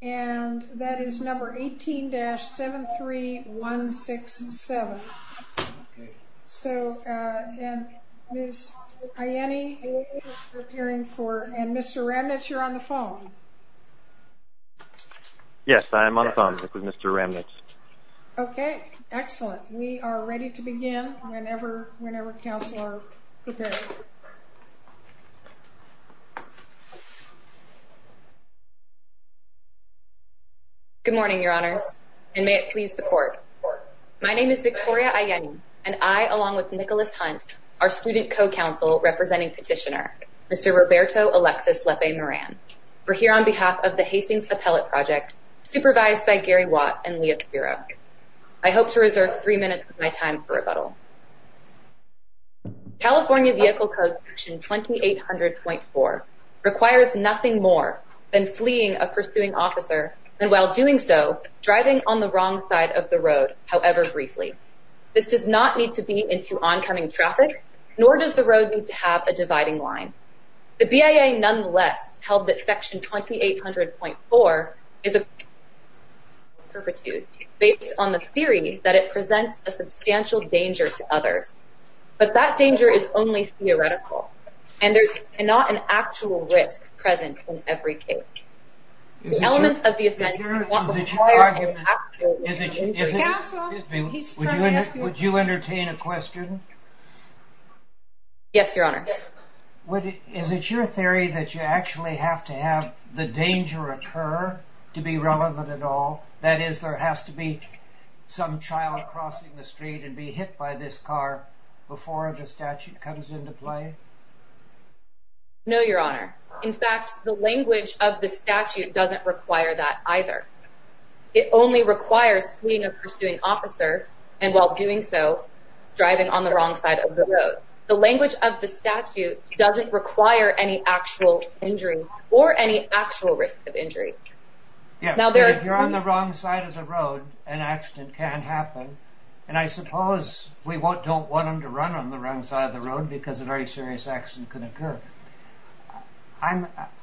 And that is number 18-73167. So, Ms. Ianni, are you preparing for, and Mr. Ramnitz, you're on the phone? Yes, I am on the phone. This is Mr. Ramnitz. Okay, excellent. We are ready to begin whenever counsel are prepared. Good morning, your honors, and may it please the court. My name is Victoria Ianni, and I, along with Nicholas Hunt, our student co-counsel representing petitioner, Mr. Roberto Alexis Lepe Moran. We're here on behalf of the Hastings Appellate Project, supervised by Gary Watt and Leah Firo. I hope to reserve three minutes of my time for rebuttal. California Vehicle Code Section 2800.4 requires nothing more than fleeing a pursuing officer, and while doing so, driving on the wrong side of the road, however briefly. This does not need to be into oncoming traffic, nor does the road need to have a dividing line. The BIA, nonetheless, held that Section 2800.4 is based on the theory that it presents a substantial danger to others, but that danger is only theoretical, and there's not an actual risk present in every case. Would you entertain a question? Yes, your honor. Is it your theory that you actually have to have the danger occur to be relevant at all? That is, there has to be some child crossing the street and be hit by this car before the statute comes into play? No, your honor. In fact, the language of the statute doesn't require that either. It only requires fleeing a pursuing officer, and while doing so, driving on the wrong side of the road. The language of the statute doesn't require any actual injury or any actual risk of injury. Yes, but if you're on the wrong side of the road, an accident can happen, and I suppose we don't want him to run on the wrong side of the road because a very serious accident could occur.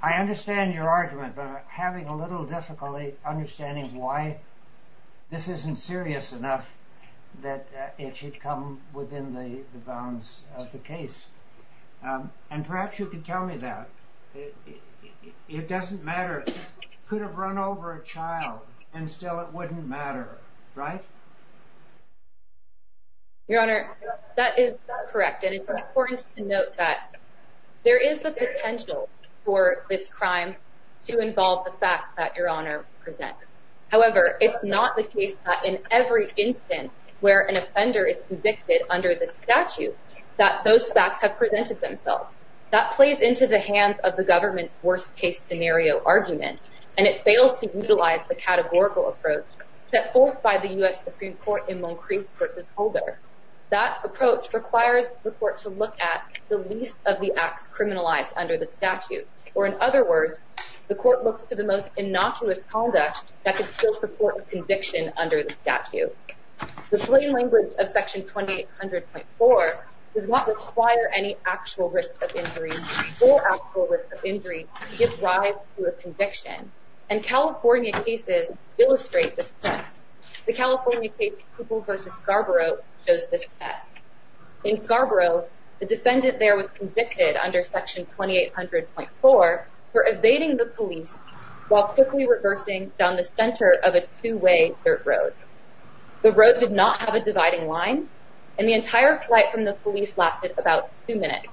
I understand your argument, but I'm having a little difficulty understanding why this isn't serious enough that it should come within the bounds of the case. And perhaps you could tell me that. It doesn't matter. It could have run over a child, and still it wouldn't matter, right? Your honor, that is correct, and it's important to note that there is the potential for this crime to involve the facts that your honor presents. However, it's not the case that in every instance where an offender is convicted under the statute that those facts have presented themselves. That plays into the hands of the government's worst case scenario argument, and it fails to utilize the categorical approach set forth by the U.S. Supreme Court in Moncrief v. Holder. That approach requires the court to look at the least of the acts criminalized under the statute, or in other words, the court looks to the most innocuous conduct that could still support a conviction under the statute. The plain language of Section 2800.4 does not require any actual risk of injury or actual risk of injury to give rise to a conviction, and California cases illustrate this point. The California case Pupil v. Scarborough shows this test. In Scarborough, the defendant there was convicted under Section 2800.4 for evading the police while quickly reversing down the center of a two-way dirt road. The road did not have a dividing line, and the entire flight from the police lasted about two minutes,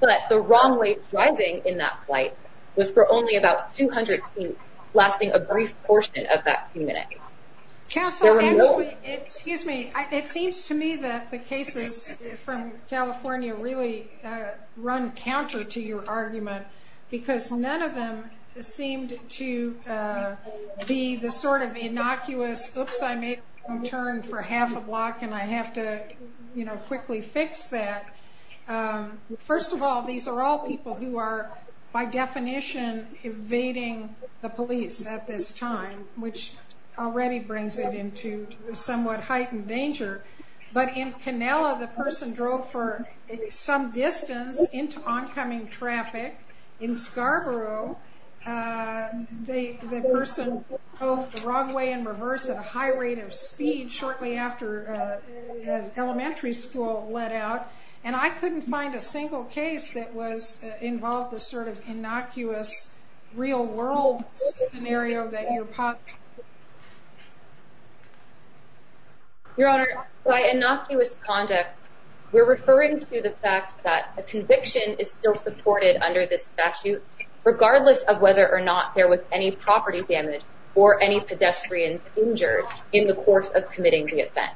but the wrong way driving in that flight was for only about 200 feet, lasting a brief portion of that two minutes. Excuse me. It seems to me that the cases from California really run counter to your argument, because none of them seemed to be the sort of innocuous, oops, I made a wrong turn for half a block, and I have to quickly fix that. First of all, these are all people who are, by definition, evading the police at this time, which already brings it into somewhat heightened danger, but in Canela, the person drove for some distance into oncoming traffic. In Scarborough, the person drove the wrong way in reverse at a high rate of speed shortly after elementary school let out, and I couldn't find a single case that involved the sort of innocuous, real-world scenario that you're positing. Your Honor, by innocuous conduct, we're referring to the fact that a conviction is still supported under this statute, regardless of whether or not there was any property damage or any pedestrians injured in the course of committing the offense.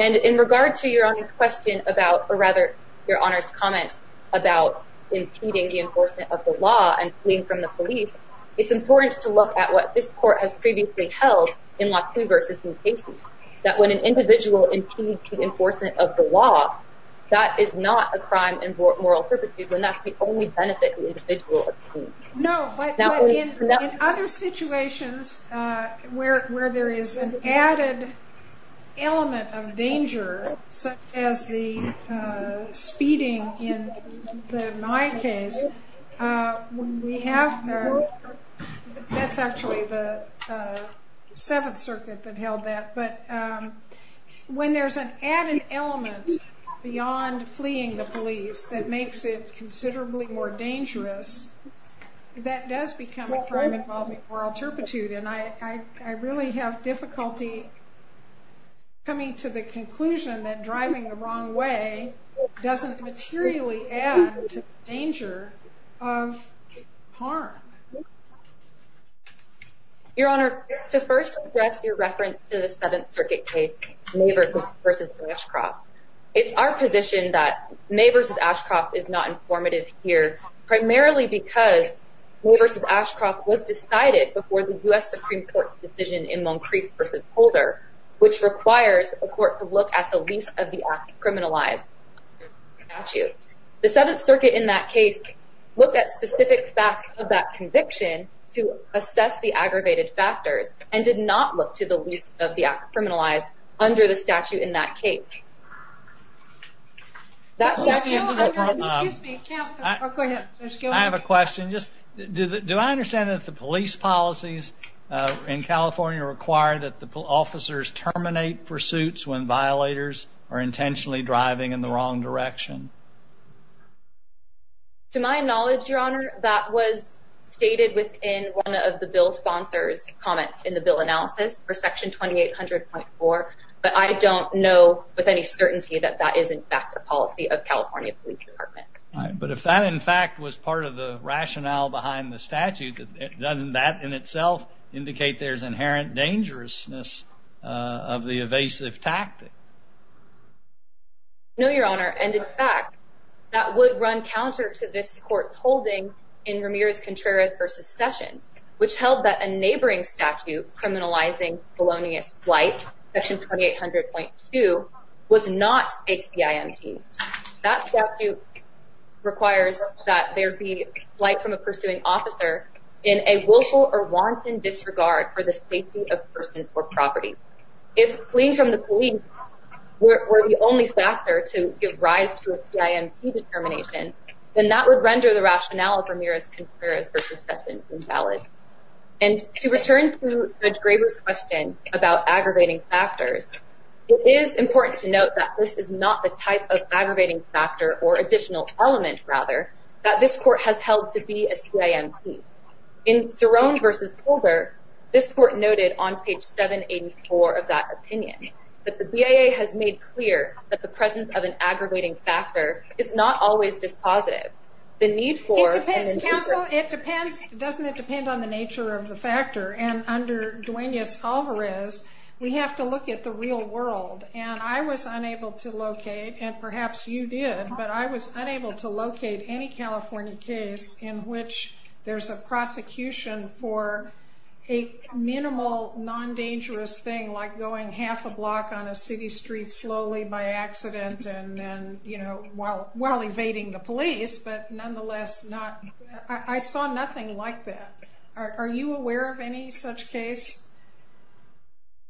And in regard to your Honor's question about, or rather, your Honor's comment about impeding the enforcement of the law and fleeing from the police, it's important to look at what this Court has previously held in LaCue v. New Casey, that when an individual impedes the enforcement of the law, that is not a crime in moral perpetuity, when that's the only benefit the individual obtains. No, but in other situations where there is an added element of danger, such as the speeding in my case, that's actually the Seventh Circuit that held that, but when there's an added element beyond fleeing the police that makes it considerably more dangerous, that does become a crime involving moral turpitude, and I really have difficulty coming to the conclusion that driving the wrong way doesn't materially add to the danger of harm. Your Honor, to first address your reference to the Seventh Circuit case, May v. Ashcroft, it's our position that May v. Ashcroft is not informative here, primarily because May v. Ashcroft was decided before the U.S. Supreme Court's decision in Moncrieff v. Holder, which requires a court to look at the least of the acts criminalized under the statute. The Seventh Circuit in that case looked at specific facts of that conviction to assess the aggravated factors, and did not look to the least of the acts criminalized under the statute in that case. I have a question. Do I understand that the police policies in California require that the officers terminate pursuits when violators are intentionally driving in the wrong direction? To my knowledge, Your Honor, that was stated within one of the bill sponsor's comments in the bill analysis for Section 2800.4, but I don't know with any certainty that that is in fact a policy of California Police Department. But if that in fact was part of the rationale behind the statute, doesn't that in itself indicate there's inherent dangerousness of the evasive tactic? No, Your Honor, and in fact, that would run counter to this court's holding in Ramirez-Contreras v. Sessions, which held that a neighboring statute criminalizing felonious flight, Section 2800.2, was not a CIMT. That statute requires that there be flight from a pursuing officer in a willful or wanton disregard for the safety of persons or property. If fleeing from the police were the only factor to give rise to a CIMT determination, then that would render the rationale of Ramirez-Contreras v. Sessions invalid. And to return to Judge Graber's question about aggravating factors, it is important to note that this is not the type of aggravating factor or additional element, rather, that this court has held to be a CIMT. In Cerrone v. Holder, this court noted on page 784 of that opinion that the BIA has made clear that the presence of an aggravating factor is not always dispositive. It depends, Counsel. Doesn't it depend on the nature of the factor? And under Duenas-Alvarez, we have to look at the real world. And I was unable to locate, and perhaps you did, but I was unable to locate any California case in which there's a prosecution for a minimal, non-dangerous thing like going half a block on a city street slowly by accident while evading the police. But nonetheless, I saw nothing like that. Are you aware of any such case?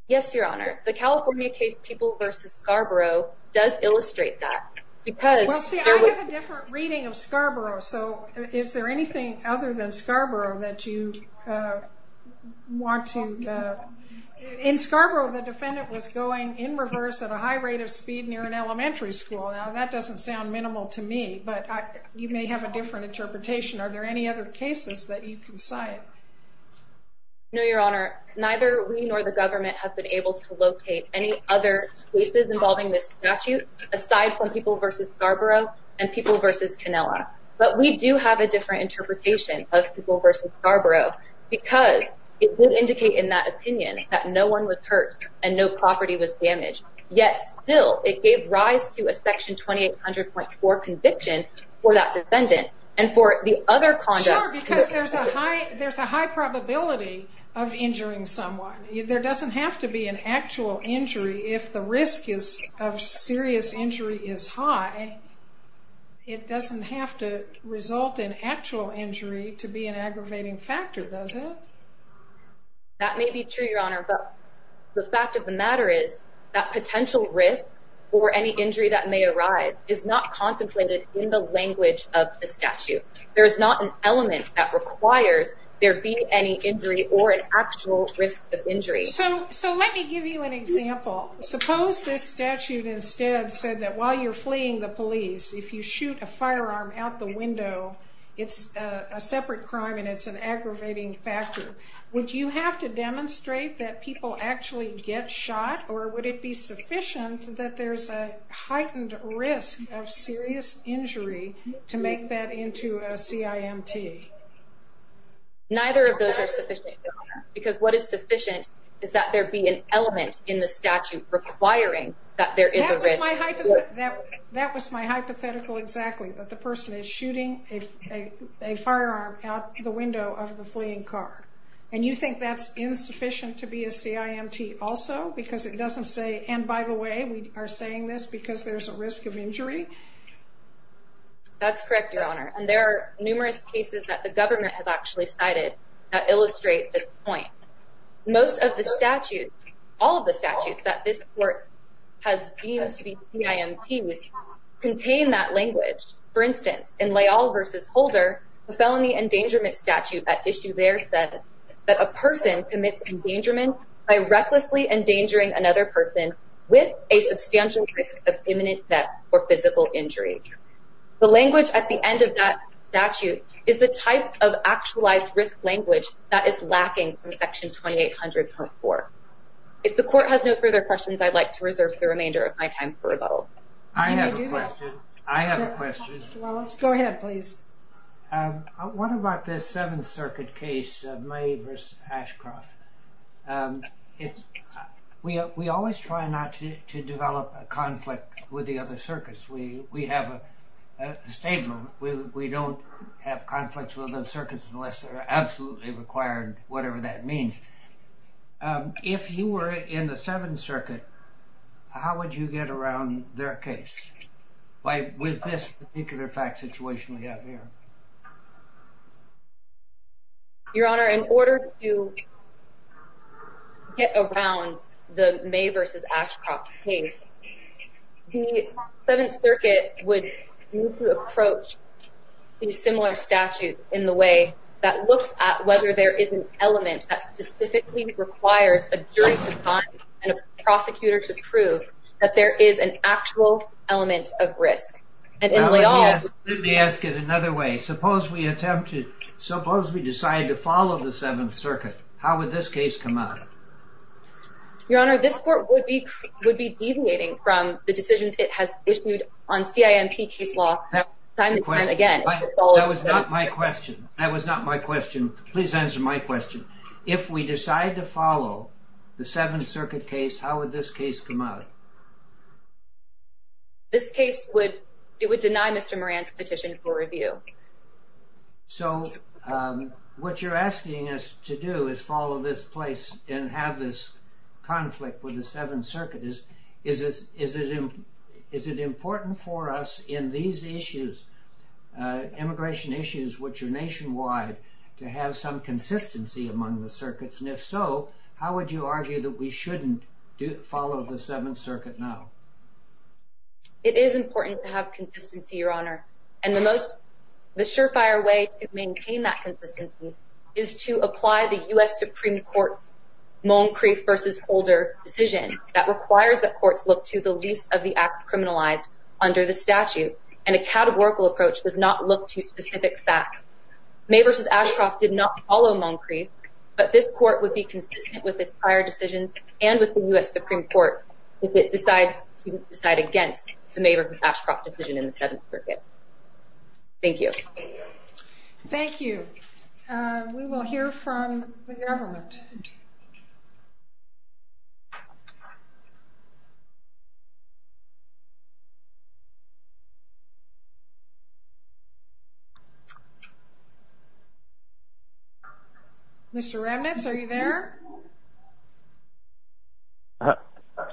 Yes, Your Honor. The California case People v. Scarborough does illustrate that. Well, see, I have a different reading of Scarborough, so is there anything other than Scarborough that you want to... In Scarborough, the defendant was going in reverse at a high rate of speed near an elementary school. Now, that doesn't sound minimal to me, but you may have a different interpretation. Are there any other cases that you can cite? No, Your Honor. Neither we nor the government have been able to locate any other cases involving this statute aside from People v. Scarborough and People v. Canela. But we do have a different interpretation of People v. Scarborough because it would indicate in that opinion that no one was hurt and no property was damaged. Yet still, it gave rise to a Section 2800.4 conviction for that defendant and for the other conduct... Because there's a high probability of injuring someone. There doesn't have to be an actual injury if the risk of serious injury is high. It doesn't have to result in actual injury to be an aggravating factor, does it? That may be true, Your Honor, but the fact of the matter is that potential risk for any injury that may arise is not contemplated in the language of the statute. There is not an element that requires there be any injury or an actual risk of injury. So let me give you an example. Suppose this statute instead said that while you're fleeing the police, if you shoot a firearm out the window, it's a separate crime and it's an aggravating factor. Would you have to demonstrate that people actually get shot or would it be sufficient that there's a heightened risk of serious injury to make that into a CIMT? Neither of those are sufficient, Your Honor, because what is sufficient is that there be an element in the statute requiring that there is a risk... That was my hypothetical exactly, that the person is shooting a firearm out the window of the fleeing car. And you think that's insufficient to be a CIMT also because it doesn't say, and by the way, we are saying this because there's a risk of injury? That's correct, Your Honor. And there are numerous cases that the government has actually cited that illustrate this point. Most of the statutes, all of the statutes that this court has deemed to be CIMTs contain that language. For instance, in Leal v. Holder, the felony endangerment statute at issue there says that a person commits endangerment by recklessly endangering another person with a substantial risk of imminent death or physical injury. The language at the end of that statute is the type of actualized risk language that is lacking from Section 2800.4. If the court has no further questions, I'd like to reserve the remainder of my time for rebuttal. I have a question. I have a question. Go ahead, please. What about this Seventh Circuit case of Maeve v. Ashcroft? We always try not to develop a conflict with the other circuits. We have a statement. We don't have conflicts with other circuits unless they're absolutely required, whatever that means. If you were in the Seventh Circuit, how would you get around their case with this particular fact situation we have here? Your Honor, in order to get around the Maeve v. Ashcroft case, the Seventh Circuit would approach a similar statute in the way that looks at whether there is an element that specifically requires a jury to find and a prosecutor to prove that there is an actual element of risk. Let me ask it another way. Suppose we decide to follow the Seventh Circuit, how would this case come out? Your Honor, this court would be deviating from the decisions it has issued on CIMT case law time and time again. That was not my question. That was not my question. Please answer my question. If we decide to follow the Seventh Circuit case, how would this case come out? This case would deny Mr. Moran's petition for review. So what you're asking us to do is follow this place and have this conflict with the Seventh Circuit. Is it important for us in these issues, immigration issues which are nationwide, to have some consistency among the circuits? And if so, how would you argue that we shouldn't follow the Seventh Circuit now? It is important to have consistency, Your Honor. And the surefire way to maintain that consistency is to apply the U.S. Supreme Court's Moncrief v. Holder decision that requires that courts look to the least of the acts criminalized under the statute. And a categorical approach does not look to specific facts. May v. Ashcroft did not follow Moncrief, but this court would be consistent with its prior decisions and with the U.S. Supreme Court if it decides to decide against the May v. Ashcroft decision in the Seventh Circuit. Thank you. Thank you. We will hear from the government. Mr. Ramnitz, are you there?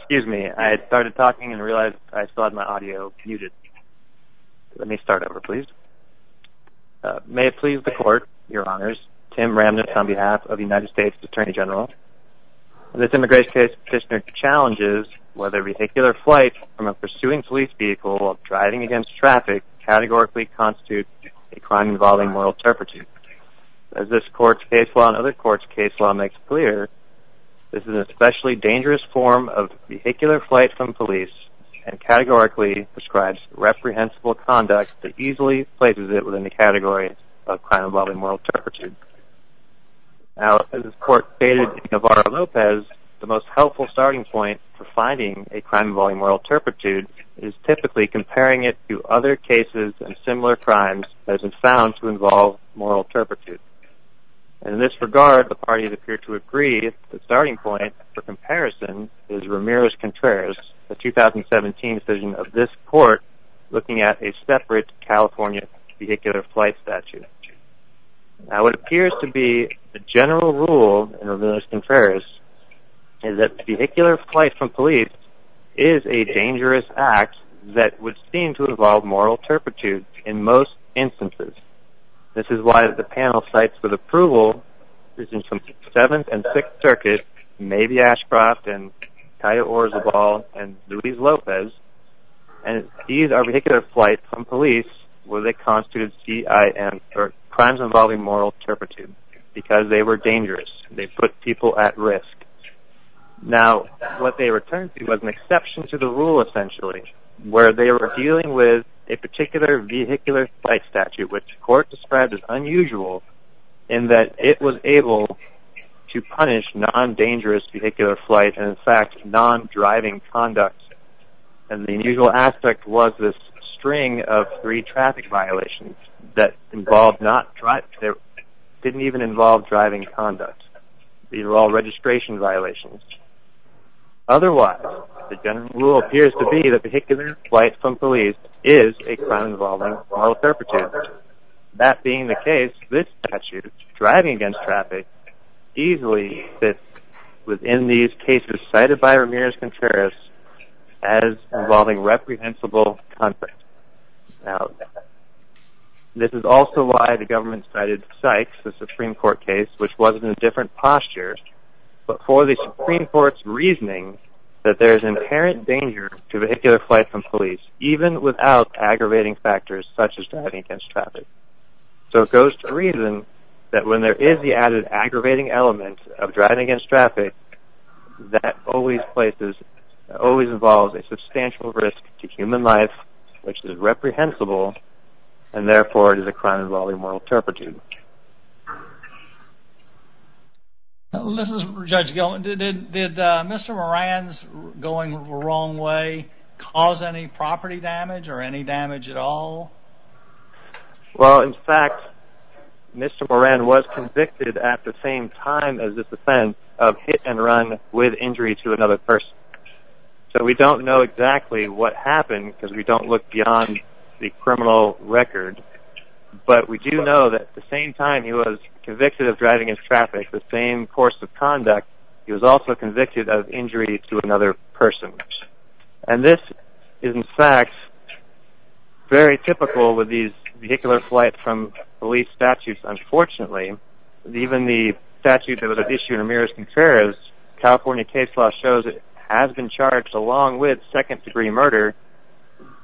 Excuse me. I had started talking and realized I still had my audio muted. Let me start over, please. May it please the Court, Your Honors. Tim Ramnitz on behalf of the United States Attorney General. This immigration case, Petitioner, challenges whether vehicular flight from a pursuing police vehicle while driving against traffic categorically constitutes a crime involving moral turpitude. As this court's case law and other courts' case law makes clear, this is an especially dangerous form of vehicular flight from police and categorically describes reprehensible conduct that easily places it within the category of crime involving moral turpitude. As this court stated in Navarro-Lopez, the most helpful starting point for finding a crime involving moral turpitude is typically comparing it to other cases and similar crimes that have been found to involve moral turpitude. In this regard, the parties appear to agree that the starting point for comparison is Ramirez-Contreras, the 2017 decision of this court looking at a separate California vehicular flight statute. Now what appears to be the general rule in Ramirez-Contreras is that vehicular flight from police is a dangerous act that would seem to involve moral turpitude in most instances. This is why the panel of sites with approval is in some 7th and 6th circuits, maybe Ashcroft and Cayo Orizabal and Luis Lopez, and these are vehicular flights from police where they constituted crimes involving moral turpitude because they were dangerous. They put people at risk. Now what they returned to was an exception to the rule essentially where they were dealing with a particular vehicular flight statute which the court described as unusual in that it was able to punish non-dangerous vehicular flight and in fact non-driving conduct. And the unusual aspect was this string of three traffic violations that didn't even involve driving conduct. These are all registration violations. Otherwise, the general rule appears to be that vehicular flight from police is a crime involving moral turpitude. That being the case, this statute, driving against traffic, easily fits within these cases cited by Ramirez-Contreras as involving reprehensible conduct. This is also why the government cited Sykes, the Supreme Court case, which was in a different posture, but for the Supreme Court's reasoning that there is inherent danger to vehicular flight from police even without aggravating factors such as driving against traffic. So it goes to reason that when there is the added aggravating element of driving against traffic, that always involves a substantial risk to human life which is reprehensible and therefore it is a crime involving moral turpitude. Judge Gilman, did Mr. Moran's going the wrong way cause any property damage or any damage at all? Well, in fact, Mr. Moran was convicted at the same time as this offense of hit and run with injury to another person. So we don't know exactly what happened because we don't look beyond the criminal record, but we do know that at the same time he was convicted of driving against traffic, the same course of conduct, he was also convicted of injury to another person. And this is, in fact, very typical with these vehicular flight from police statutes, unfortunately. Even the statute that was issued in Amirrez-Contreras, California case law, shows it has been charged along with second degree murder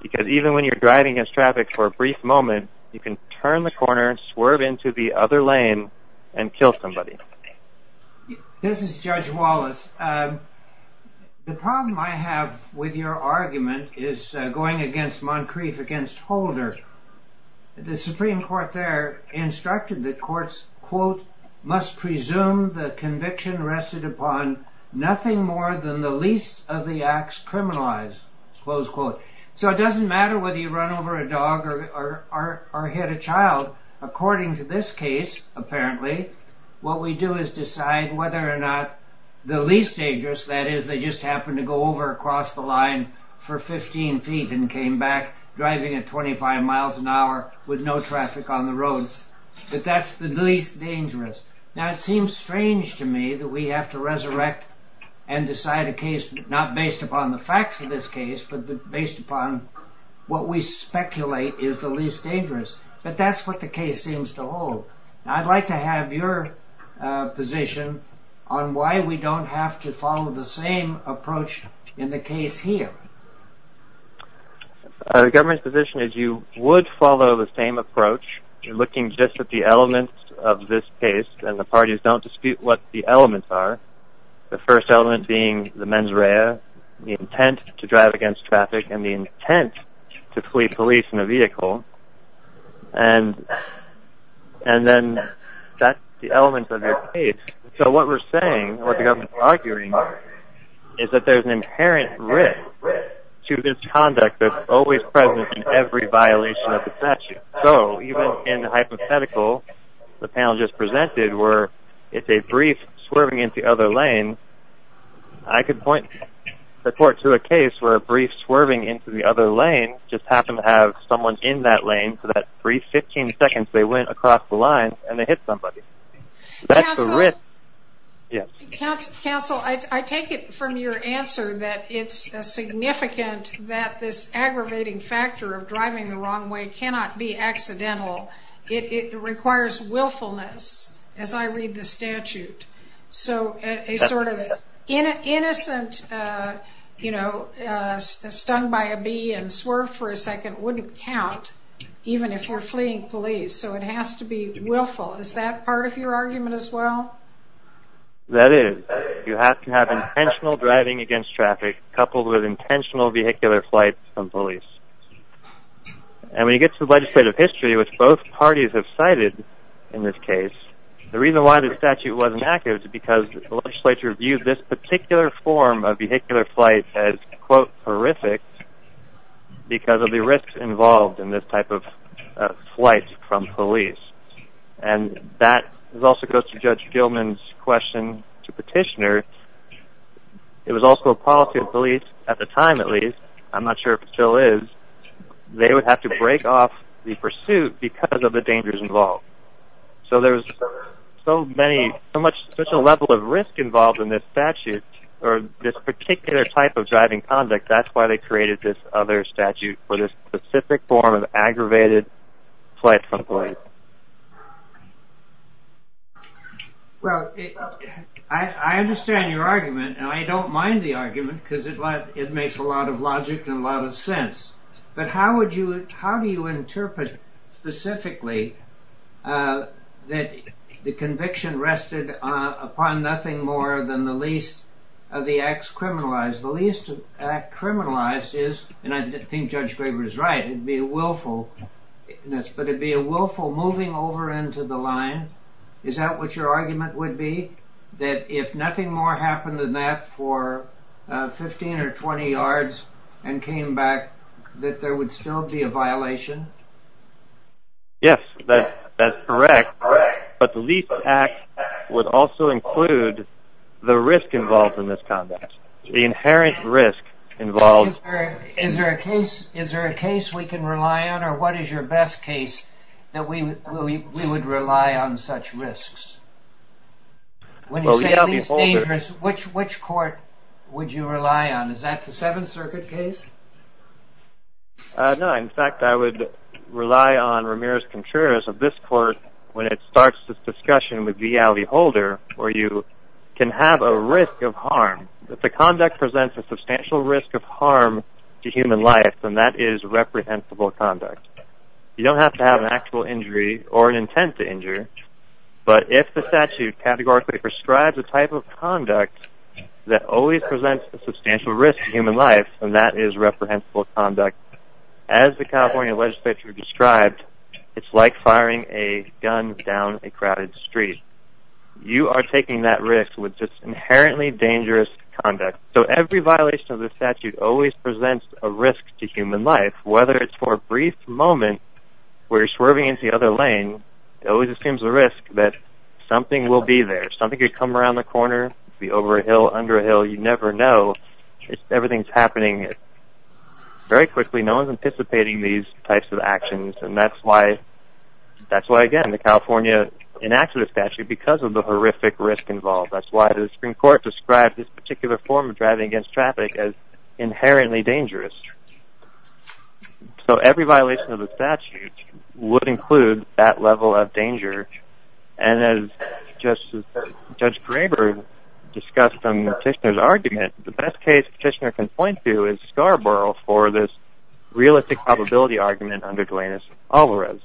because even when you're driving against traffic for a brief moment, you can turn the corner, swerve into the other lane, and kill somebody. This is Judge Wallace. The problem I have with your argument is going against Moncrief against Holder. The Supreme Court there instructed that courts, quote, must presume the conviction rested upon nothing more than the least of the acts criminalized, close quote. So it doesn't matter whether you run over a dog or hit a child. According to this case, apparently, what we do is decide whether or not the least dangerous, that is, they just happened to go over across the line for 15 feet and came back driving at 25 miles an hour with no traffic on the road, that that's the least dangerous. Now it seems strange to me that we have to resurrect and decide a case not based upon the facts of this case, but based upon what we speculate is the least dangerous. But that's what the case seems to hold. I'd like to have your position on why we don't have to follow the same approach in the case here. The government's position is you would follow the same approach, looking just at the elements of this case, and the parties don't dispute what the elements are. The first element being the mens rea, the intent to drive against traffic, and the intent to flee police in a vehicle. And then that's the elements of the case. So what we're saying, what the government's arguing, is that there's an inherent risk to this conduct that's always present in every violation of the statute. So even in the hypothetical, the panel just presented, where it's a brief swerving into the other lane, I could point the court to a case where a brief swerving into the other lane just happened to have someone in that lane for that brief 15 seconds they went across the line and they hit somebody. That's the risk. Counsel, I take it from your answer that it's significant that this aggravating factor of driving the wrong way cannot be accidental. It requires willfulness, as I read the statute. So a sort of innocent, you know, stung by a bee and swerved for a second wouldn't count, even if you're fleeing police. So it has to be willful. Is that part of your argument as well? That is. You have to have intentional driving against traffic, coupled with intentional vehicular flight from police. And when you get to the legislative history, which both parties have cited in this case, the reason why the statute wasn't active is because the legislature viewed this particular form of vehicular flight as, quote, horrific because of the risks involved in this type of flight from police. And that also goes to Judge Gilman's question to Petitioner. It was also a policy of police at the time, at least. I'm not sure if it still is. They would have to break off the pursuit because of the dangers involved. So there's so many, so much, such a level of risk involved in this statute or this particular type of driving conduct. That's why they created this other statute for this specific form of aggravated flight from police. Well, I understand your argument, and I don't mind the argument because it makes a lot of logic and a lot of sense. But how would you, how do you interpret specifically that the conviction rested upon nothing more than the least of the acts criminalized? Because the least act criminalized is, and I think Judge Graber is right, it would be a willful, but it would be a willful moving over into the line. Is that what your argument would be? That if nothing more happened than that for 15 or 20 yards and came back, that there would still be a violation? Yes, that's correct. But the least act would also include the risk involved in this conduct, the inherent risk involved. Is there a case we can rely on, or what is your best case that we would rely on such risks? When you say least dangerous, which court would you rely on? Is that the Seventh Circuit case? No, in fact, I would rely on Ramirez-Contreras of this court when it starts this discussion with V. Alley Holder, where you can have a risk of harm, if the conduct presents a substantial risk of harm to human life, then that is reprehensible conduct. You don't have to have an actual injury or an intent to injure, but if the statute categorically prescribes a type of conduct that always presents a substantial risk to human life, then that is reprehensible conduct. As the California legislature described, it's like firing a gun down a crowded street. You are taking that risk with this inherently dangerous conduct. So every violation of the statute always presents a risk to human life, whether it's for a brief moment where you're swerving into the other lane, it always assumes a risk that something will be there, something could come around the corner, it could be over a hill, under a hill, you never know, everything's happening. Very quickly, no one is anticipating these types of actions, and that's why, again, the California enacted the statute because of the horrific risk involved. That's why the Supreme Court described this particular form of driving against traffic as inherently dangerous. So every violation of the statute would include that level of danger, and as Judge Graber discussed in Petitioner's argument, the best case Petitioner can point to is Scarborough for this realistic probability argument under Duenas-Alvarez.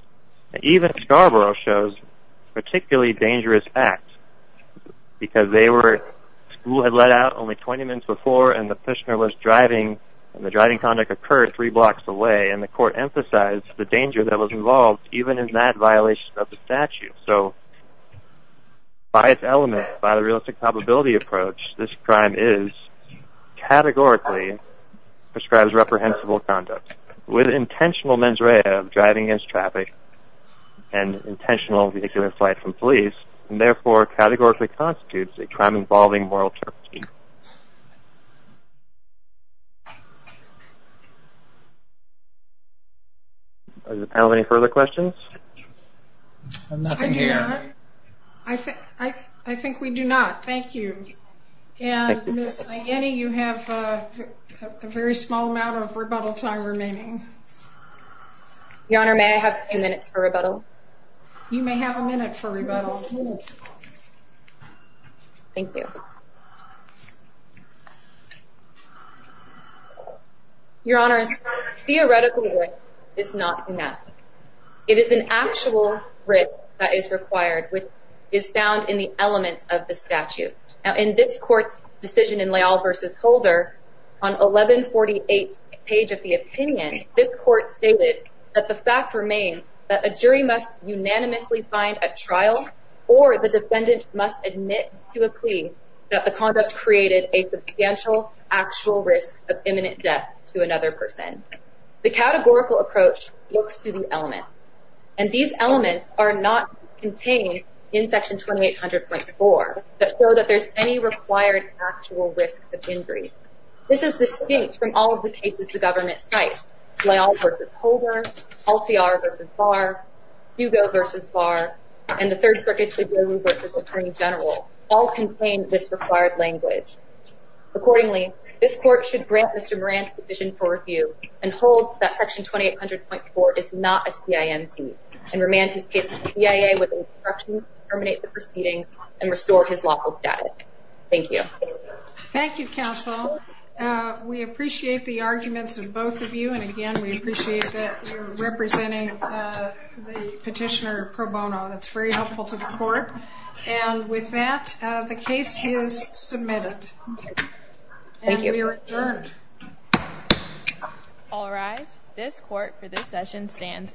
Even Scarborough shows particularly dangerous acts, because they were, school had let out only 20 minutes before, and the Petitioner was driving, and the driving conduct occurred three blocks away, and the court emphasized the danger that was involved, even in that violation of the statute. So by its element, by the realistic probability approach, this crime is, categorically, prescribes reprehensible conduct. With intentional mens rea of driving against traffic, and intentional vehicular flight from police, and therefore categorically constitutes a crime involving moral turpitude. Does the panel have any further questions? I do not. I think we do not. Thank you. And Ms. Ianni, you have a very small amount of rebuttal time remaining. Your Honor, may I have a few minutes for rebuttal? You may have a minute for rebuttal. Thank you. Your Honor, theoretical risk is not enough. It is an actual risk that is required, which is found in the elements of the statute. In this court's decision in Leal v. Holder, on 1148 page of the opinion, this court stated that the fact remains that a jury must unanimously find a trial, or the defendant must admit to a plea that the conduct created a substantial actual risk of imminent death to another person. The categorical approach looks to the elements. And these elements are not contained in Section 2800.4 that show that there's any required actual risk of injury. This is distinct from all of the cases the government cites. Leal v. Holder, Alciar v. Barr, Hugo v. Barr, and the third circuit jury v. attorney general all contain this required language. Accordingly, this court should grant Mr. Moran's position for review and hold that Section 2800.4 is not a CIMT and remand his case to the CIA with instructions to terminate the proceedings and restore his lawful status. Thank you. Thank you, counsel. We appreciate the arguments of both of you. And again, we appreciate that you're representing the petitioner, Pro Bono. That's very helpful to the court. And with that, the case is submitted. Thank you. And we are adjourned. All rise. This court for this session stands adjourned.